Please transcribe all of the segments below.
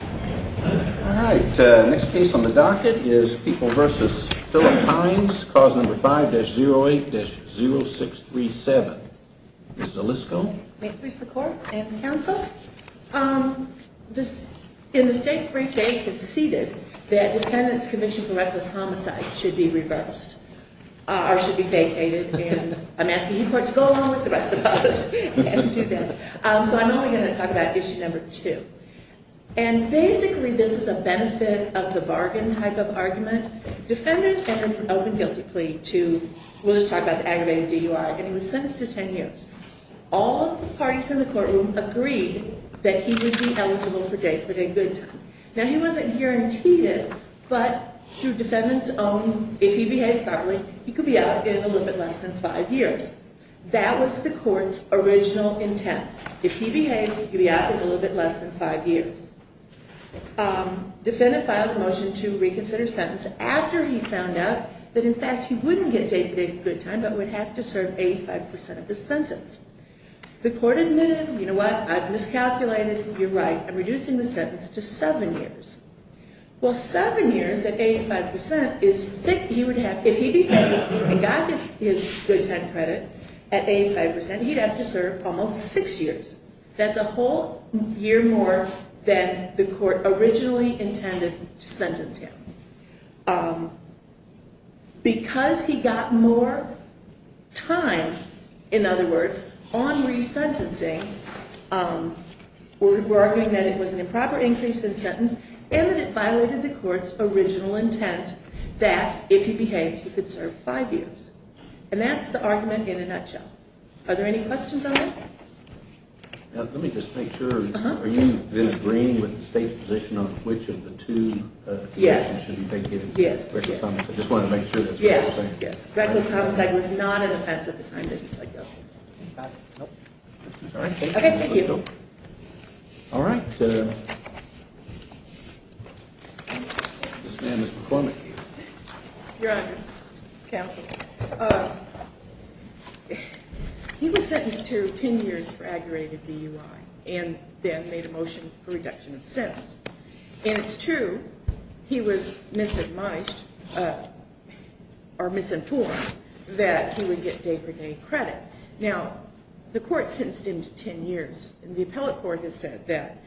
All right, next case on the docket is People v. Philip Heinz, cause number 5-08-0637. This is Alysco. May it please the court and counsel. In the state's brief case it's ceded that defendants' conviction for reckless homicide should be reversed, or should be vacated, and I'm asking you courts to go along with the rest of us and do that. So I'm only going to talk about issue number two. And basically this is a benefit of the bargain type of argument. Defendants went from open guilty plea to, we'll just talk about the aggravated DUI, and he was sentenced to 10 years. All of the parties in the courtroom agreed that he would be eligible for day-for-day good time. Now he wasn't guaranteed it, but through defendants' own, if he behaved properly, he could be out in a little bit less than five years. That was the court's original intent. If he behaved, he could be out in a little bit less than five years. Defendant filed a motion to reconsider his sentence after he found out that in fact he wouldn't get day-for-day good time, but would have to serve 85% of his sentence. The court admitted, you know what, I've miscalculated, you're right, I'm reducing the sentence to seven years. Well, seven years at 85%, if he got his good time credit at 85%, he'd have to serve almost six years. That's a whole year more than the court originally intended to sentence him. Because he got more time, in other words, on resentencing, we're arguing that it was an improper increase in sentence, and that it violated the court's original intent that if he behaved, he could serve five years. And that's the argument in a nutshell. Are there any questions on that? Let me just make sure. Are you then agreeing with the state's position on which of the two conditions should be vacated? Yes, yes. I just wanted to make sure that's what you were saying. Yes, yes. Reckless homicide was not an offense at the time that he died, though. Okay, thank you. All right. Ms. McCormick. Your honors, counsel, he was sentenced to ten years for aggravated DUI and then made a motion for reduction of sentence. And it's true he was misinformed that he would get day-for-day credit. Now, the court sentenced him to ten years. And the appellate court has said that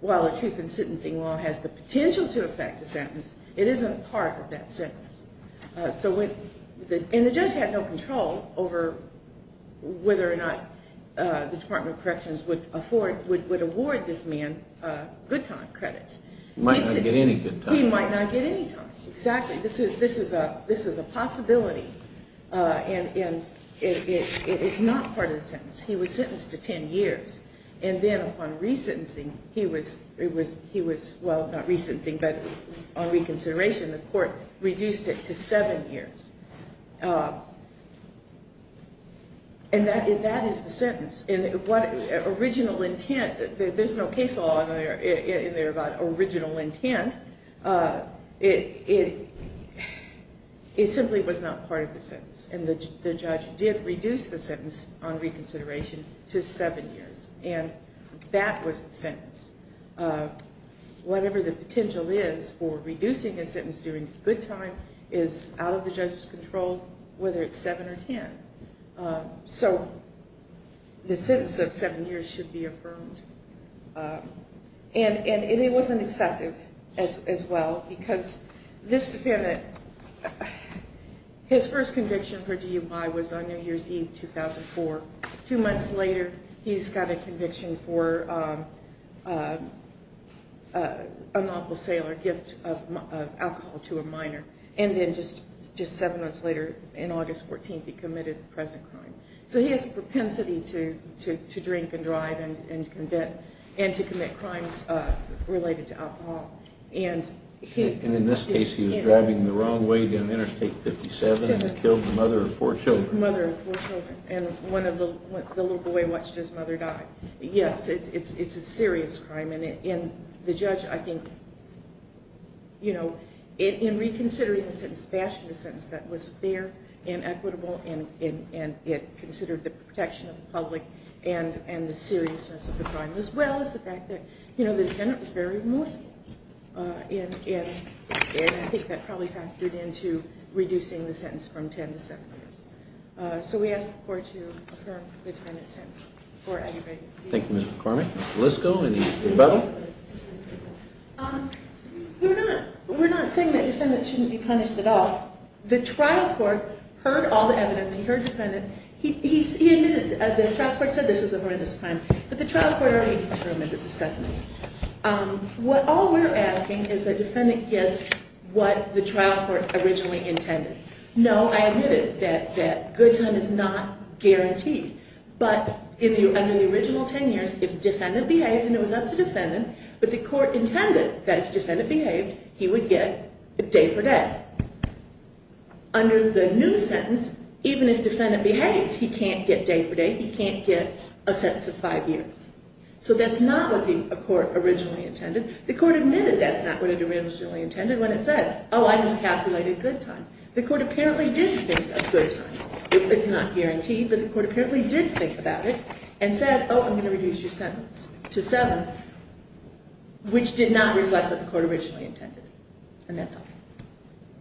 while a truth in sentencing law has the potential to affect a sentence, it isn't part of that sentence. And the judge had no control over whether or not the Department of Corrections would award this man good time credits. He might not get any good time. He might not get any time. Exactly. This is a possibility. And it is not part of the sentence. He was sentenced to ten years. And then upon re-sentencing, he was, well, not re-sentencing, but on reconsideration, the court reduced it to seven years. And that is the sentence. Original intent, there's no case law in there about original intent. It simply was not part of the sentence. And the judge did reduce the sentence on reconsideration to seven years. And that was the sentence. Whatever the potential is for reducing a sentence during good time is out of the judge's control, whether it's seven or ten. So the sentence of seven years should be affirmed. And it wasn't excessive as well, because this defendant, his first conviction for DUI was on New Year's Eve 2004. Two months later, he's got a conviction for unlawful sale or gift of alcohol to a minor. And then just seven months later, in August 14th, he committed the present crime. So he has a propensity to drink and drive and to commit crimes related to alcohol. And in this case, he was driving the wrong way down Interstate 57 and killed the mother of four children. The mother of four children. And the little boy watched his mother die. Yes, it's a serious crime. And the judge, I think, you know, in reconsidering the sentence, fashioned a sentence that was fair and equitable, and it considered the protection of the public and the seriousness of the crime as well as the fact that, you know, the defendant was very remorseful. And I think that probably factored into reducing the sentence from ten to seven years. So we ask the Court to affirm the defendant's sentence for aggravated DUI. Thank you, Ms. McCormick. Ms. Lisko, any further? We're not saying that the defendant shouldn't be punished at all. The trial court heard all the evidence. He heard the defendant. He admitted that the trial court said this was a horrendous crime. But the trial court already determined that the sentence. All we're asking is that the defendant gets what the trial court originally intended. No, I admit it, that good time is not guaranteed. But under the original ten years, if the defendant behaved, and it was up to the defendant, but the court intended that if the defendant behaved, he would get day for day. Under the new sentence, even if the defendant behaves, he can't get day for day. He can't get a sentence of five years. So that's not what the court originally intended. The court admitted that's not what it originally intended when it said, oh, I miscalculated good time. The court apparently did think of good time. It's not guaranteed, but the court apparently did think about it and said, oh, I'm going to reduce your sentence to seven, which did not reflect what the court originally intended. And that's all.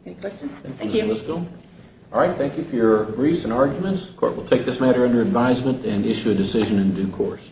Any questions? Thank you. All right, thank you for your briefs and arguments. The court will take this matter under advisement and issue a decision in due course.